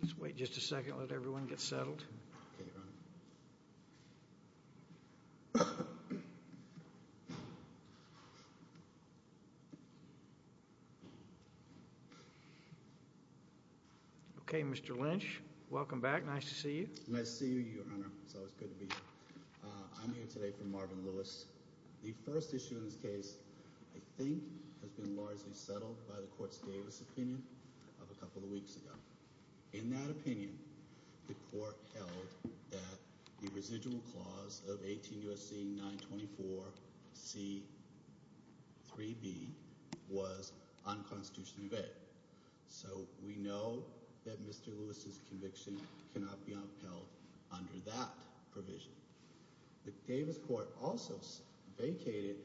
Let's wait just a second, let everyone get settled. Okay Mr. Lynch, welcome back, nice to see you. Nice to see you, your honor. It's always good to be here. I'm here today for Marvin Lewis. The first issue in this case, I think, has been largely settled by the court's Davis opinion of a couple of weeks ago. In that opinion, the court held that the residual clause of 18 U.S.C. 924 C. 3b was unconstitutionally vetted. So, we know that Mr. Lewis' conviction cannot be upheld under that provision. The Davis court also vacated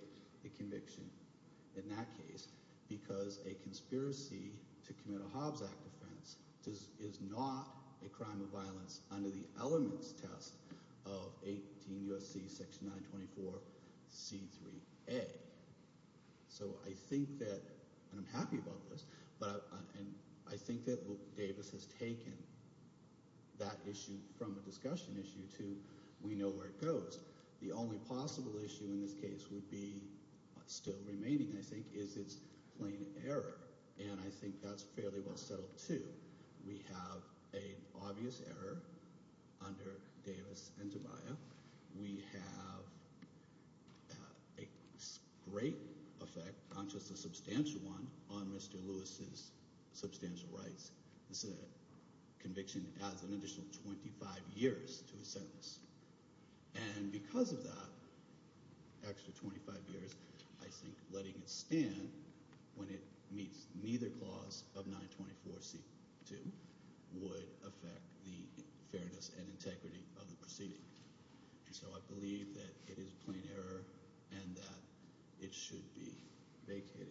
the conviction in that case because a conspiracy to commit a Hobbs Act offense is not a crime of violence under the elements test of 18 U.S.C. section 924 C. 3a. So I think that, and I'm happy about this, but I think that Davis has taken that issue from a discussion issue to we know where it goes. The only possible issue in this case would be still remaining, I think, is its plain error. And I think that's fairly well settled, too. We have an obvious error under Davis and Tobiah. We have a great effect, not just a substantial one, on Mr. Lewis' substantial rights. This conviction adds an additional 25 years to his sentence. And because of that extra 25 years, I think letting it stand when it meets neither clause of 924 C. 2 would affect the fairness and integrity of the proceeding. So I believe that it is plain error and that it should be vacated.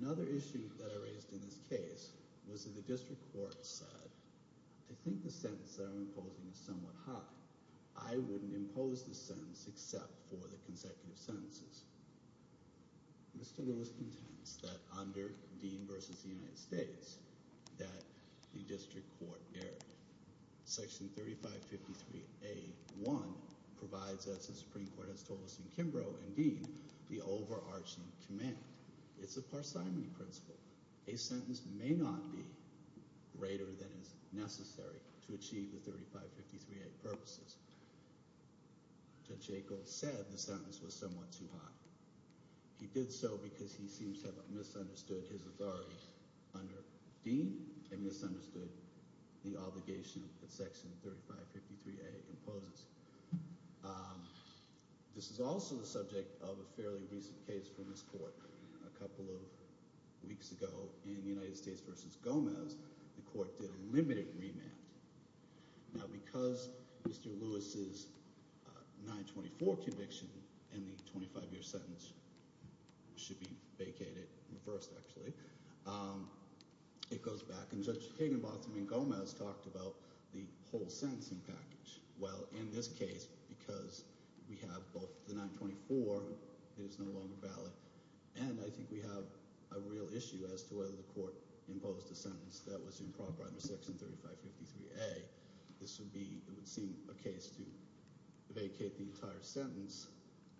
Another issue that I raised in this case was that the district court said, I think the sentence that I'm imposing is somewhat high. I wouldn't impose this sentence except for the consecutive sentences. Mr. Lewis contends that under Dean v. United States that the district court erred. Section 3553A.1 provides, as the Supreme Court has told us in Kimbrough and Dean, the overarching command. It's a parsimony principle. A sentence may not be greater than is necessary to achieve the 3553A purposes. Judge Jacobs said the sentence was somewhat too high. He did so because he seems to have misunderstood his authority under Dean and misunderstood the obligation that section 3553A imposes. This is also the subject of a fairly recent case from this court. A couple of weeks ago in United States v. Gomez, the court did a limited remand. Now because Mr. Lewis's 924 conviction and the 25 year sentence should be vacated, reversed actually, it goes back and Judge Higginbotham and Gomez talked about the whole sentencing package. Well, in this case, because we have both the 924, it is no longer valid, and I think we have a real issue as to whether the court imposed a sentence that was improper under section 3553A. This would be, it would seem, a case to vacate the entire sentence,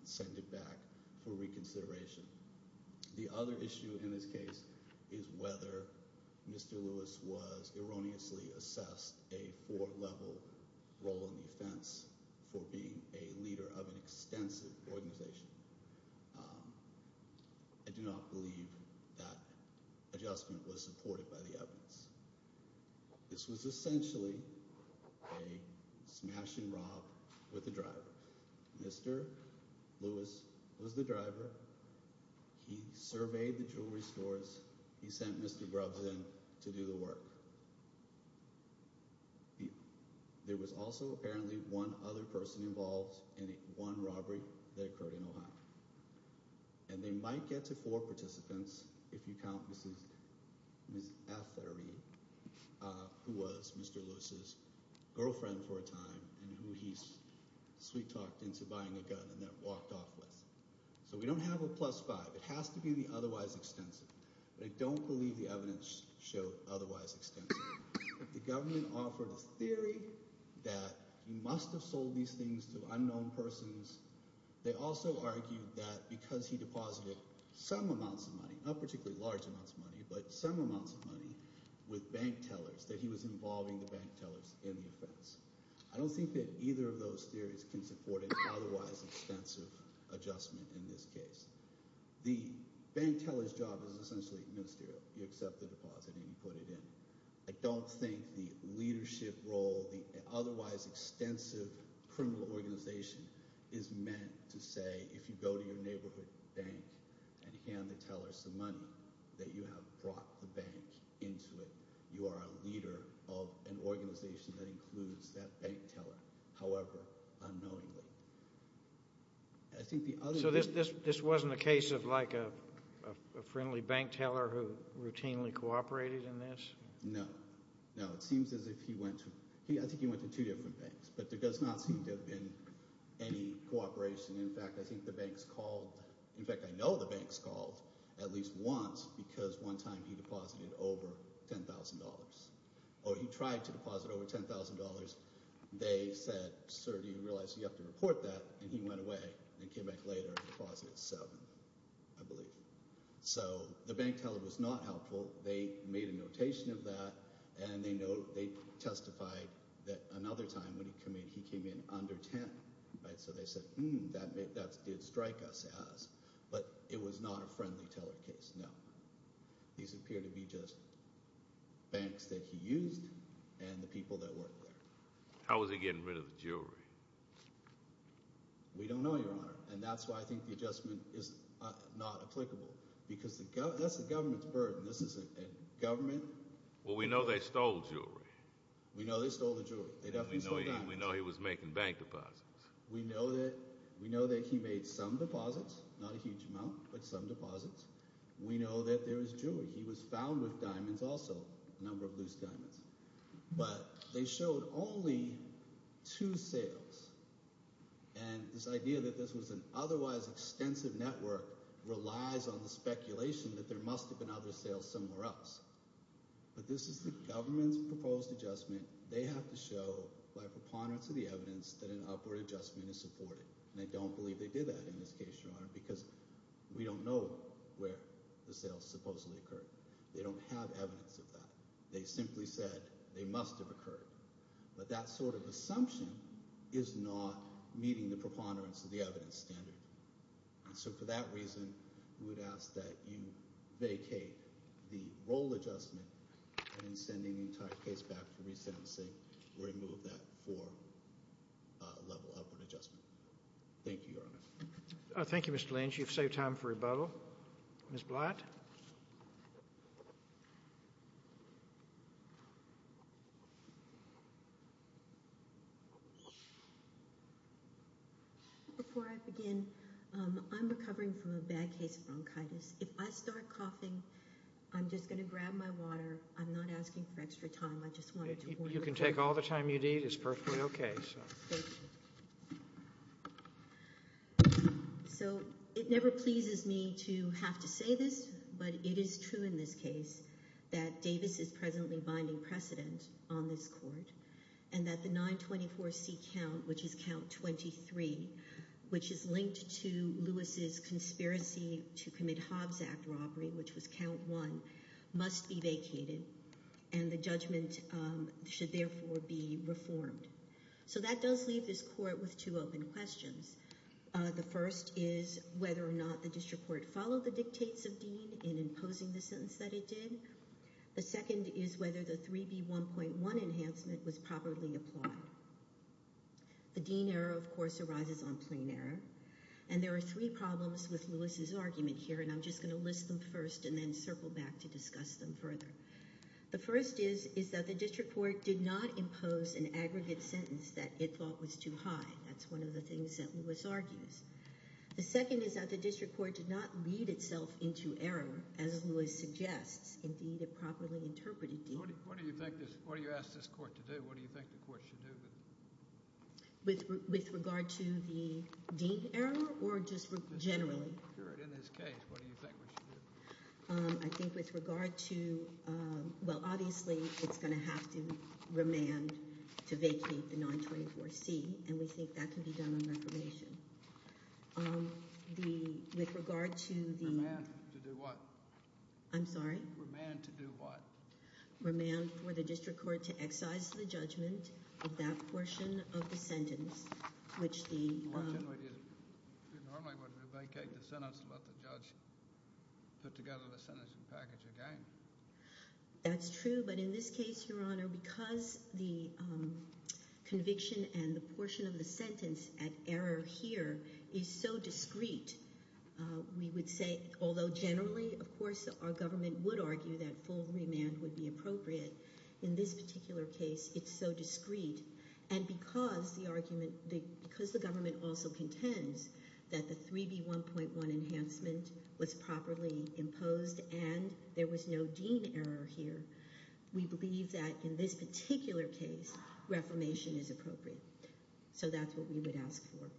send it back for reconsideration. The other issue in this case is whether Mr. Lewis was erroneously assessed a four level role in the offense for being a leader of an extensive organization. I do not believe that adjustment was supported by the evidence. This was essentially a smash and rob with the driver. Mr. Lewis was the driver. He surveyed the jewelry stores. He sent Mr. Grubbs in to do the work. There was also apparently one other person involved in one robbery that occurred in Ohio. And they might get to four participants, if you count Ms. Fettery, who was Mr. Lewis's girlfriend for a time and who he sweet-talked into buying a gun and then walked off with. So we don't have a plus-five. It has to be the otherwise extensive, but I don't believe the evidence showed otherwise extensive. The government offered a theory that he must have sold these things to unknown persons. They also argued that because he deposited some amounts of money, not particularly large amounts of money, but some amounts of money with bank tellers, that he was involving the bank in the defense. I don't think that either of those theories can support an otherwise extensive adjustment in this case. The bank teller's job is essentially ministerial. You accept the deposit and you put it in. I don't think the leadership role, the otherwise extensive criminal organization, is meant to say, if you go to your neighborhood bank and hand the teller some money, that you have brought the bank into it. You are a leader of an organization that includes that bank teller, however unknowingly. So this wasn't a case of like a friendly bank teller who routinely cooperated in this? No. No, it seems as if he went to two different banks, but there does not seem to have been any cooperation. In fact, I think the banks called, in fact, I know the banks called at least once because one time he deposited over $10,000, or he tried to deposit over $10,000. They said, sir, do you realize you have to report that, and he went away and came back later and deposited $7,000, I believe. So the bank teller was not helpful. They made a notation of that, and they testified that another time when he came in, he came in under $10,000. So they said, hmm, that did strike us as. But it was not a friendly teller case, no. These appear to be just banks that he used and the people that worked there. How was he getting rid of the jewelry? We don't know, Your Honor, and that's why I think the adjustment is not applicable, because that's the government's burden. This is a government. Well, we know they stole jewelry. We know they stole the jewelry. We know he was making bank deposits. We know that he made some deposits, not a huge amount, but some deposits. We know that there was jewelry. He was found with diamonds also, a number of loose diamonds. But they showed only two sales, and this idea that this was an otherwise extensive network relies on the speculation that there must have been other sales somewhere else. But this is the government's proposed adjustment. They have to show by preponderance of the evidence that an upward adjustment is supported. And I don't believe they did that in this case, Your Honor, because we don't know where the sales supposedly occurred. They don't have evidence of that. They simply said they must have occurred. But that sort of assumption is not meeting the preponderance of the evidence standard. So for that reason, we would ask that you vacate the roll adjustment and in sending the entire case back for resensing, remove that for a level upward adjustment. Thank you, Your Honor. Thank you, Mr. Lynch. You've saved time for rebuttal. Ms. Blatt? Before I begin, I'm recovering from a bad case of bronchitis. If I start coughing, I'm just going to grab my water. I'm not asking for extra time. I just wanted to warn you. You can take all the time you need. It's perfectly okay. Thank you. So it never pleases me to have to say this, but it is true in this case that Davis is presently binding precedent on this court and that the 924C count, which is count 23, which is linked to Lewis's conspiracy to commit Hobbs Act robbery, which was count one, must be vacated and the judgment should therefore be reformed. So that does leave this court with two open questions. The first is whether or not the district court followed the dictates of Dean in imposing the sentence that it did. The second is whether the 3B1.1 enhancement was properly applied. The Dean error, of course, arises on plain error, and there are three problems with Lewis's argument here, and I'm just going to list them first and then circle back to discuss them further. The first is that the district court did not impose an aggregate sentence that it thought was too high. That's one of the things that Lewis argues. The second is that the district court did not lead itself into error, as Lewis suggests. Indeed, it properly interpreted Dean. What do you ask this court to do? What do you think the court should do? With regard to the Dean error or just generally? In this case, what do you think we should do? I think with regard to, well, obviously, it's going to have to remand to vacate the 924C, and we think that can be done on reclamation. With regard to the... Remand to do what? I'm sorry? Remand to do what? Remand for the district court to excise the judgment of that portion of the sentence, which the... You normally would vacate the sentence and let the judge put together the sentence and package again. That's true, but in this case, Your Honour, because the conviction and the portion of the sentence at error here is so discreet, we would say, although generally, of course, our government would argue that full remand would be appropriate, in this particular case, it's so discreet. And because the argument... Because the government also contends that the 3B1.1 enhancement was properly imposed and there was no Dean error here, we believe that, in this particular case, reformation is appropriate. So that's what we would ask for.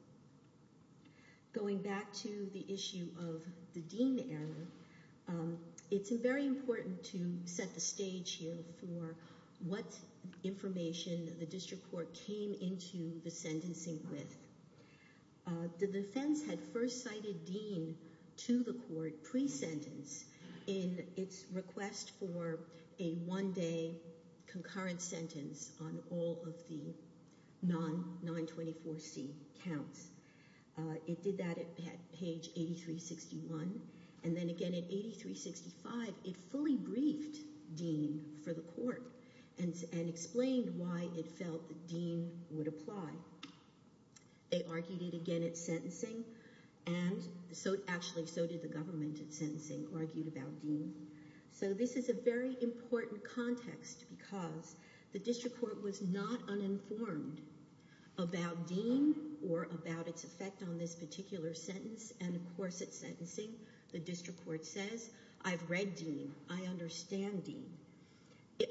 Going back to the issue of the Dean error, it's very important to set the stage here for what information the district court came into the sentencing with. The defence had first cited Dean to the court pre-sentence in its request for a one-day concurrent sentence on all of the non-924C counts. It did that at page 8361. And then again at 8365, it fully briefed Dean for the court and explained why it felt that Dean would apply. They argued it again at sentencing, and actually, so did the government at sentencing, argued about Dean. So this is a very important context because the district court was not uninformed about Dean or about its effect on this particular sentence, and, of course, at sentencing, the district court says, I've read Dean, I understand Dean.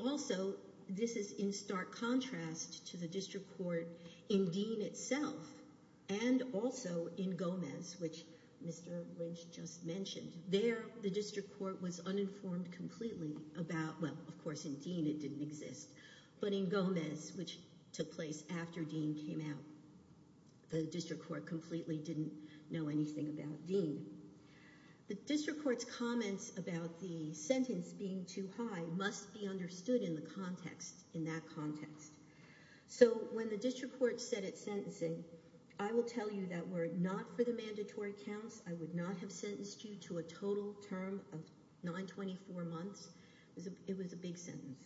Also, this is in stark contrast to the district court in Dean itself and also in Gomez, which Mr. Lynch just mentioned. There, the district court was uninformed completely about... Well, of course, in Dean, it didn't exist. But in Gomez, which took place after Dean came out, the district court completely didn't know anything about Dean. The district court's comments about the sentence being too high must be understood in the context, in that context. So when the district court said at sentencing, I will tell you that were it not for the mandatory counts, I would not have sentenced you to a total term of 924 months. It was a big sentence.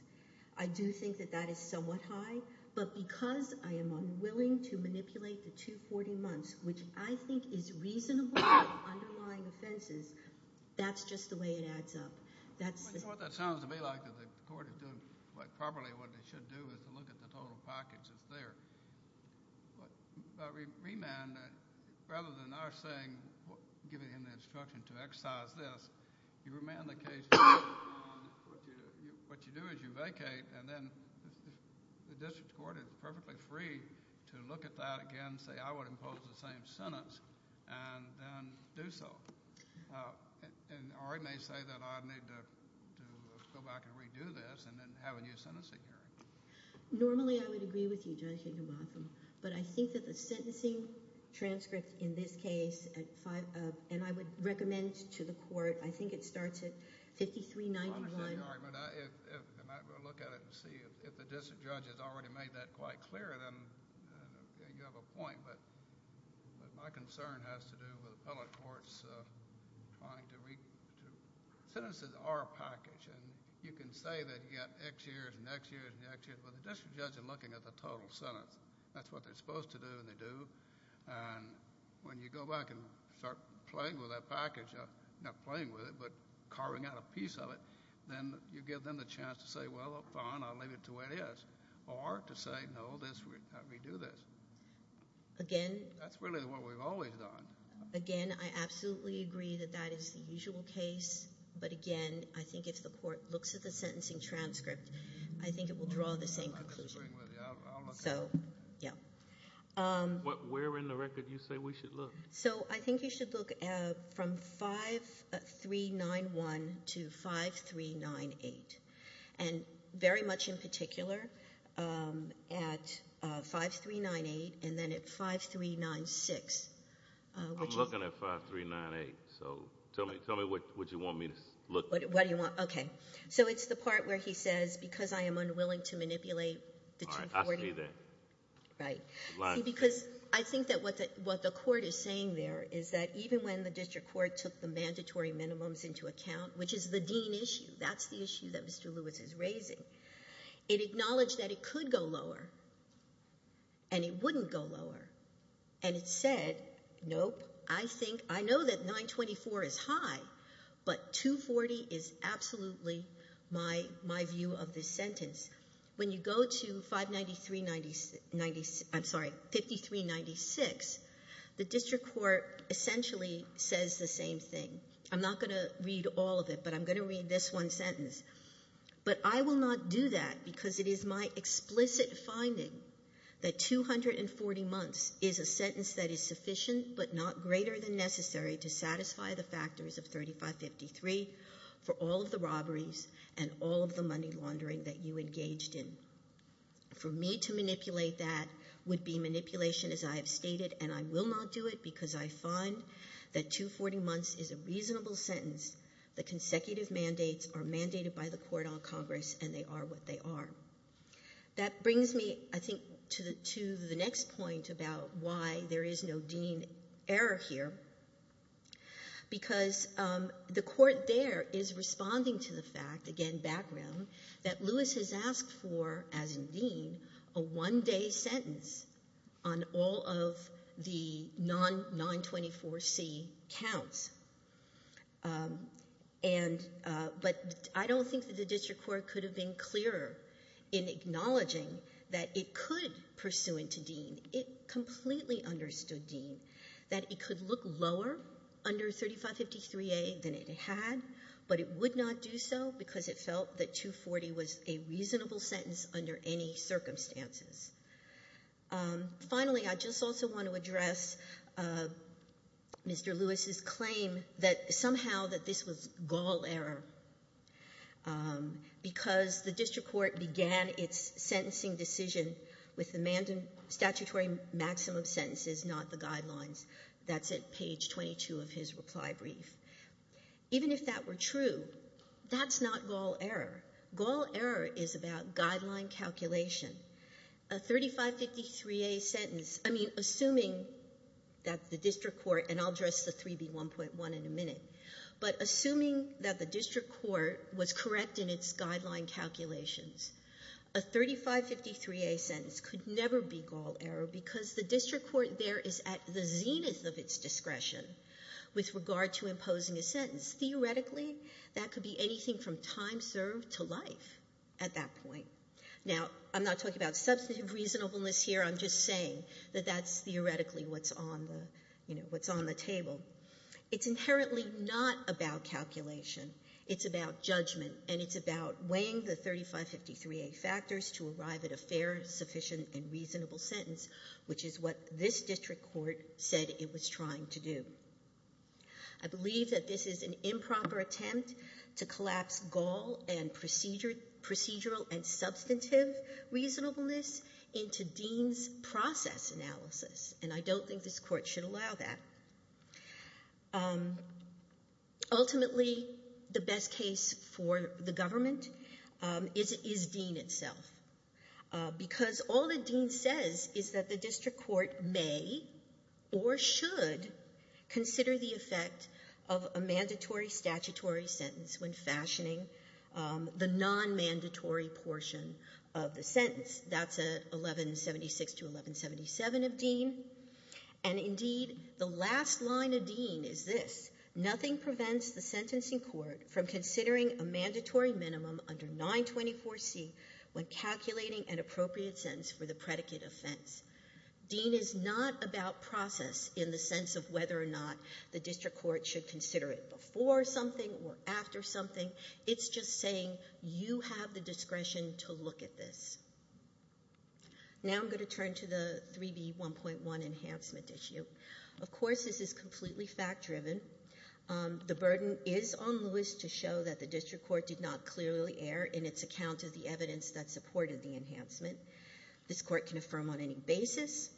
I do think that that is somewhat high, but because I am unwilling to manipulate the 240 months, which I think is reasonable in underlying offenses, that's just the way it adds up. That's... You know what that sounds to me like, that the court is doing quite properly what it should do is to look at the total package that's there. But remand, rather than our saying, giving him the instruction to exercise this, you remand the case... What you do is you vacate, and then the district court is perfectly free to look at that again and say, I would impose the same sentence, and then do so. Or I may say that I need to go back and redo this and then have a new sentencing hearing. Normally I would agree with you, Judge Higginbotham, but I think that the sentencing transcript in this case, and I would recommend to the court, I think it starts at 5391. I'm sorry, but if... I might go look at it and see if the district judge has already made that quite clear, then you have a point. But my concern has to do with appellate courts trying to re... Sentences are a package, and you can say that you got X years and X years and X years, but the district judge is looking at the total sentence. That's what they're supposed to do, and they do. And when you go back and start playing with that package, not playing with it, but carving out a piece of it, then you give them the chance to say, well, fine, I'll leave it the way it is, or to say, no, let's redo this. Again... That's really what we've always done. Again, I absolutely agree that that is the usual case, but again, I think if the court looks at the sentencing transcript, I think it will draw the same conclusion. I'll look at it. So, yeah. Where in the record do you say we should look? So I think you should look from 5391 to 5398, and very much in particular at 5398 and then at 5396. I'm looking at 5398, so tell me what you want me to look at. What do you want? OK. So it's the part where he says, because I am unwilling to manipulate the 240... All right, ask me that. Right. Because I think that what the court is saying there is that even when the district court took the mandatory minimums into account, which is the Dean issue, that's the issue that Mr Lewis is raising, it acknowledged that it could go lower, and it wouldn't go lower, and it said, nope, I think... I know that 924 is high, but 240 is absolutely my view of this sentence. When you go to 593... I'm sorry, 5396, the district court essentially says the same thing. I'm not going to read all of it, but I'm going to read this one sentence. But I will not do that, because it is my explicit finding that 240 months is a sentence that is sufficient to satisfy the factors of 3553 for all of the robberies and all of the money laundering that you engaged in. For me to manipulate that would be manipulation, as I have stated, and I will not do it, because I find that 240 months is a reasonable sentence. The consecutive mandates are mandated by the court on Congress, and they are what they are. That brings me, I think, to the next point about why there is no Dean error here, because the court there is responding to the fact, again, background, that Lewis has asked for, as in Dean, a one-day sentence on all of the non-924C counts. But I don't think that the district court could have been clearer in acknowledging that it could, pursuant to Dean, it completely understood Dean, that it could look lower under 3553A than it had, but it would not do so because it felt that 240 was a reasonable sentence under any circumstances. Finally, I just also want to address Mr. Lewis's claim that somehow that this was gall error, because the district court began its sentencing decision with the mandatory statutory maximum sentences, not the guidelines. That's at page 22 of his reply brief. Even if that were true, that's not gall error. Gall error is about guideline calculation. A 3553A sentence, I mean, assuming that the district court, and I'll address the 3B1.1 in a minute, but assuming that the district court was correct in its guideline calculations, a 3553A sentence could never be gall error because the district court there is at the zenith of its discretion with regard to imposing a sentence. Theoretically, that could be anything from time served to life at that point. Now, I'm not talking about substantive reasonableness here. I'm just saying that that's theoretically what's on the, you know, what's on the table. It's inherently not about calculation. It's about judgment, and it's about weighing the 3553A factors to arrive at a fair, sufficient, and reasonable sentence, which is what this district court said it was trying to do. I believe that this is an improper attempt to collapse gall and procedural and substantive reasonableness into Dean's process analysis, and I don't think this court should allow that. Ultimately, the best case for the government is Dean itself, because all that Dean says is that the district court may or should consider the effect of a mandatory statutory sentence when fashioning the non-mandatory portion of the sentence. That's 1176 to 1177 of Dean. And indeed, the last line of Dean is this. Nothing prevents the sentencing court from considering a mandatory minimum under 924C when calculating an appropriate sentence for the predicate offense. Dean is not about process in the sense of whether or not the district court should consider it before something or after something. It's just saying, you have the discretion to look at this. Now I'm going to turn to the 3B1.1 enhancement issue. Of course, this is completely fact-driven. The burden is on Lewis to show that the district court did not clearly err in its account of the evidence that supported the enhancement. This court can affirm on any basis.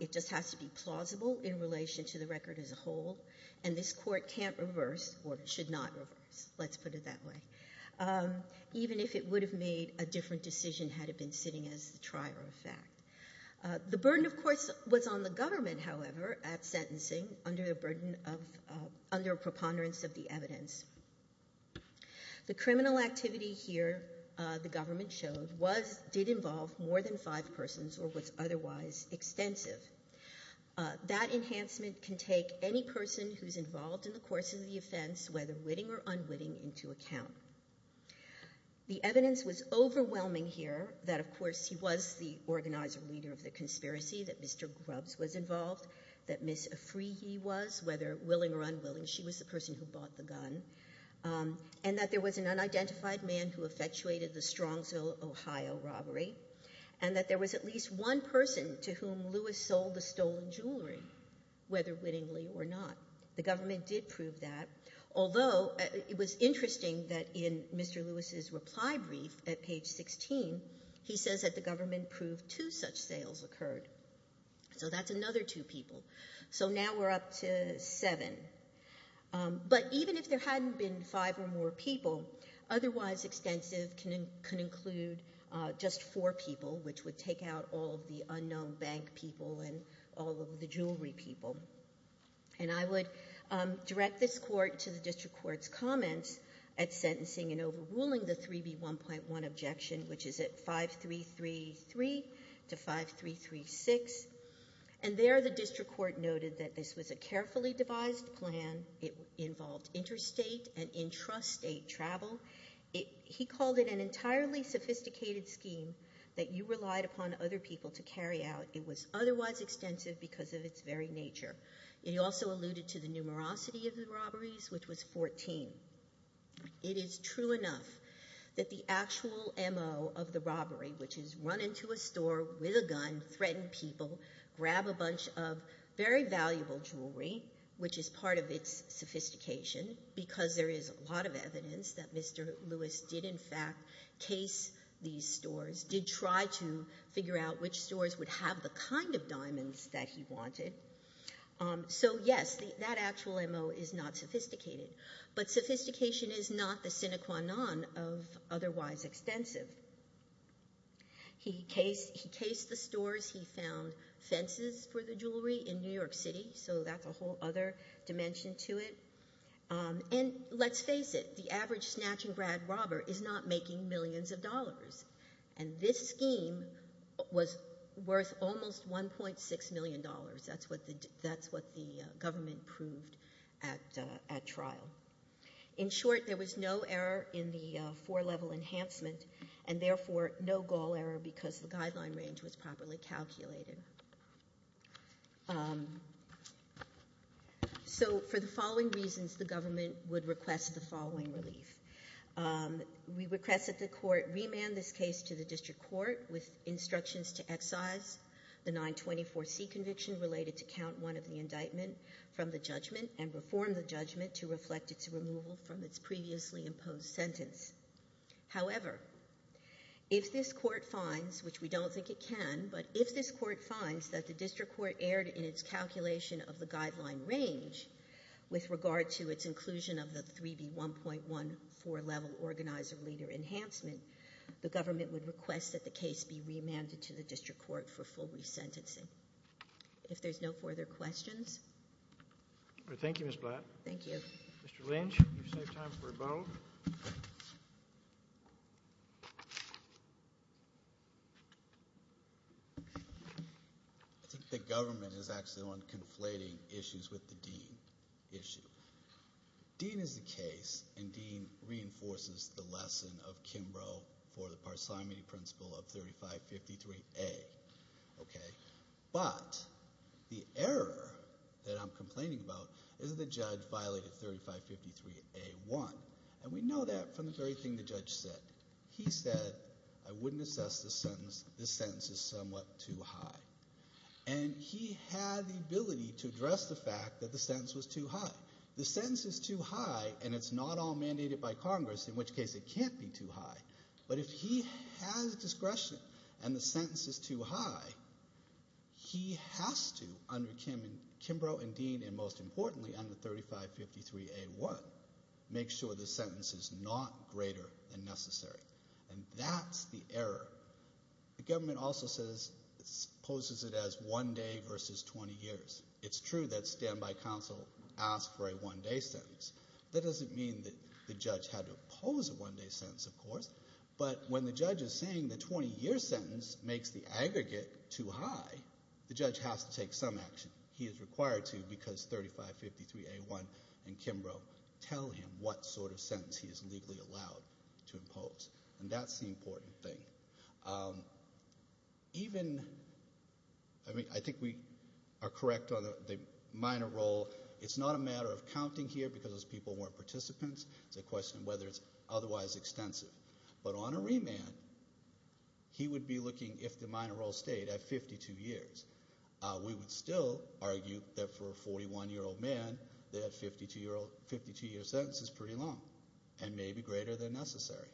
It just has to be plausible in relation to the record as a whole. And this court can't reverse, or should not reverse, let's put it that way, even if it would have made a different decision had it been sitting as the trier of fact. The burden, of course, was on the government, however, at sentencing, under the burden of... under preponderance of the evidence. The criminal activity here, the government showed, did involve more than five persons or was otherwise extensive. That enhancement can take any person who's involved in the course of the offense, whether witting or unwitting, into account. The evidence was overwhelming here that, of course, he was the organizer, leader of the conspiracy, that Mr. Grubbs was involved, that Ms. Afrihi was, whether willing or unwilling, she was the person who bought the gun, and that there was an unidentified man who effectuated the Strongsville, Ohio, robbery, and that there was at least one person to whom Lewis sold the stolen jewelry, whether wittingly or not. The government did prove that, although it was interesting that in Mr. Lewis's reply brief at page 16, he says that the government proved two such sales occurred. So that's another two people. So now we're up to seven. But even if there hadn't been five or more people, otherwise extensive can include just four people, which would take out all of the unknown bank people and all of the jewelry people. And I would direct this court to the district court's comments at sentencing and overruling the 3B1.1 objection, which is at 5333 to 5336. And there the district court noted that this was a carefully devised plan. It involved interstate and intrastate travel. He called it an entirely sophisticated scheme that you relied upon other people to carry out. It was otherwise extensive because of its very nature. It also alluded to the numerosity of the robberies, which was 14. It is true enough that the actual M.O. of the robbery, which is run into a store with a gun, threatened people, grab a bunch of very valuable jewelry, which is part of its sophistication, because there is a lot of evidence that Mr. Lewis did in fact case these stores, did try to figure out which stores would have the kind of diamonds that he wanted. So yes, that actual M.O. is not sophisticated. But sophistication is not the sine qua non of otherwise extensive. He cased the stores. He found fences for the jewelry in New York City, so that's a whole other dimension to it. And let's face it, the average snatch-and-grab robber is not making millions of dollars. And this scheme was worth almost $1.6 million. That's what the government proved at trial. In short, there was no error in the four-level enhancement and therefore no gall error because the guideline range was properly calculated. So for the following reasons, the government would request the following relief. We request that the court remand this case to the district court with instructions to excise the 924C conviction related to count 1 of the indictment from the judgment and reform the judgment to reflect its removal from its previously imposed sentence. However, if this court finds, which we don't think it can, but if this court finds that the district court erred in its calculation of the guideline range with regard to its inclusion of the 3B1.14-level organizer-leader enhancement, the government would request that the case be remanded to the district court for full resentencing. If there's no further questions... Thank you, Ms. Blatt. Thank you. Mr. Lynch, you've saved time for a moment. I think the government is actually the one conflating issues with the dean issue. Dean is the case, and dean reinforces the lesson of Kimbrough for the parsimony principle of 3553A, okay? But the error that I'm complaining about is that the judge violated 3553A.1. And we know that from the very thing the judge said. He said, I wouldn't assess this sentence. This sentence is somewhat too high. And he had the ability to address the fact that the sentence was too high. The sentence is too high, and it's not all mandated by Congress, in which case it can't be too high. But if he has discretion and the sentence is too high, he has to, under Kimbrough and Dean, and most importantly, under 3553A.1, make sure the sentence is not greater than necessary. And that's the error. The government also says... poses it as one day versus 20 years. It's true that standby counsel asked for a one-day sentence. That doesn't mean that the judge had to oppose a one-day sentence, of course. But when the judge is saying the 20-year sentence makes the aggregate too high, the judge has to take some action. He is required to, because 3553A.1 and Kimbrough tell him what sort of sentence he is legally allowed to impose. And that's the important thing. Um, even... I mean, I think we are correct on the minor role. It's not a matter of counting here because those people weren't participants. It's a question of whether it's otherwise extensive. But on a remand, he would be looking, if the minor role stayed, at 52 years. We would still argue that for a 41-year-old man, that 52-year sentence is pretty long and may be greater than necessary.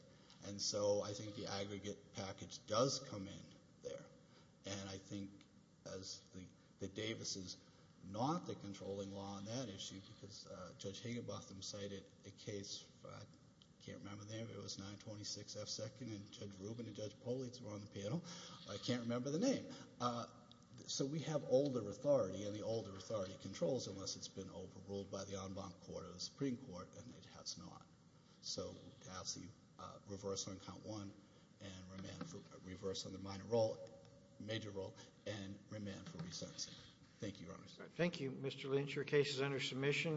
And so I think the aggregate package does come in there. And I think, as the... that Davis is not the controlling law on that issue because Judge Higginbotham cited a case... I can't remember the name. It was 926 F. 2nd, and Judge Rubin and Judge Politz were on the panel. I can't remember the name. So we have older authority, and the older authority controls unless it's been overruled by the en banc court or the Supreme Court, and it has not. So to ask the reverse on count one and remand for... reverse on the minor role, major role, and remand for resentencing. Thank you, Your Honor. Thank you, Mr. Lynch. Your case is under submission.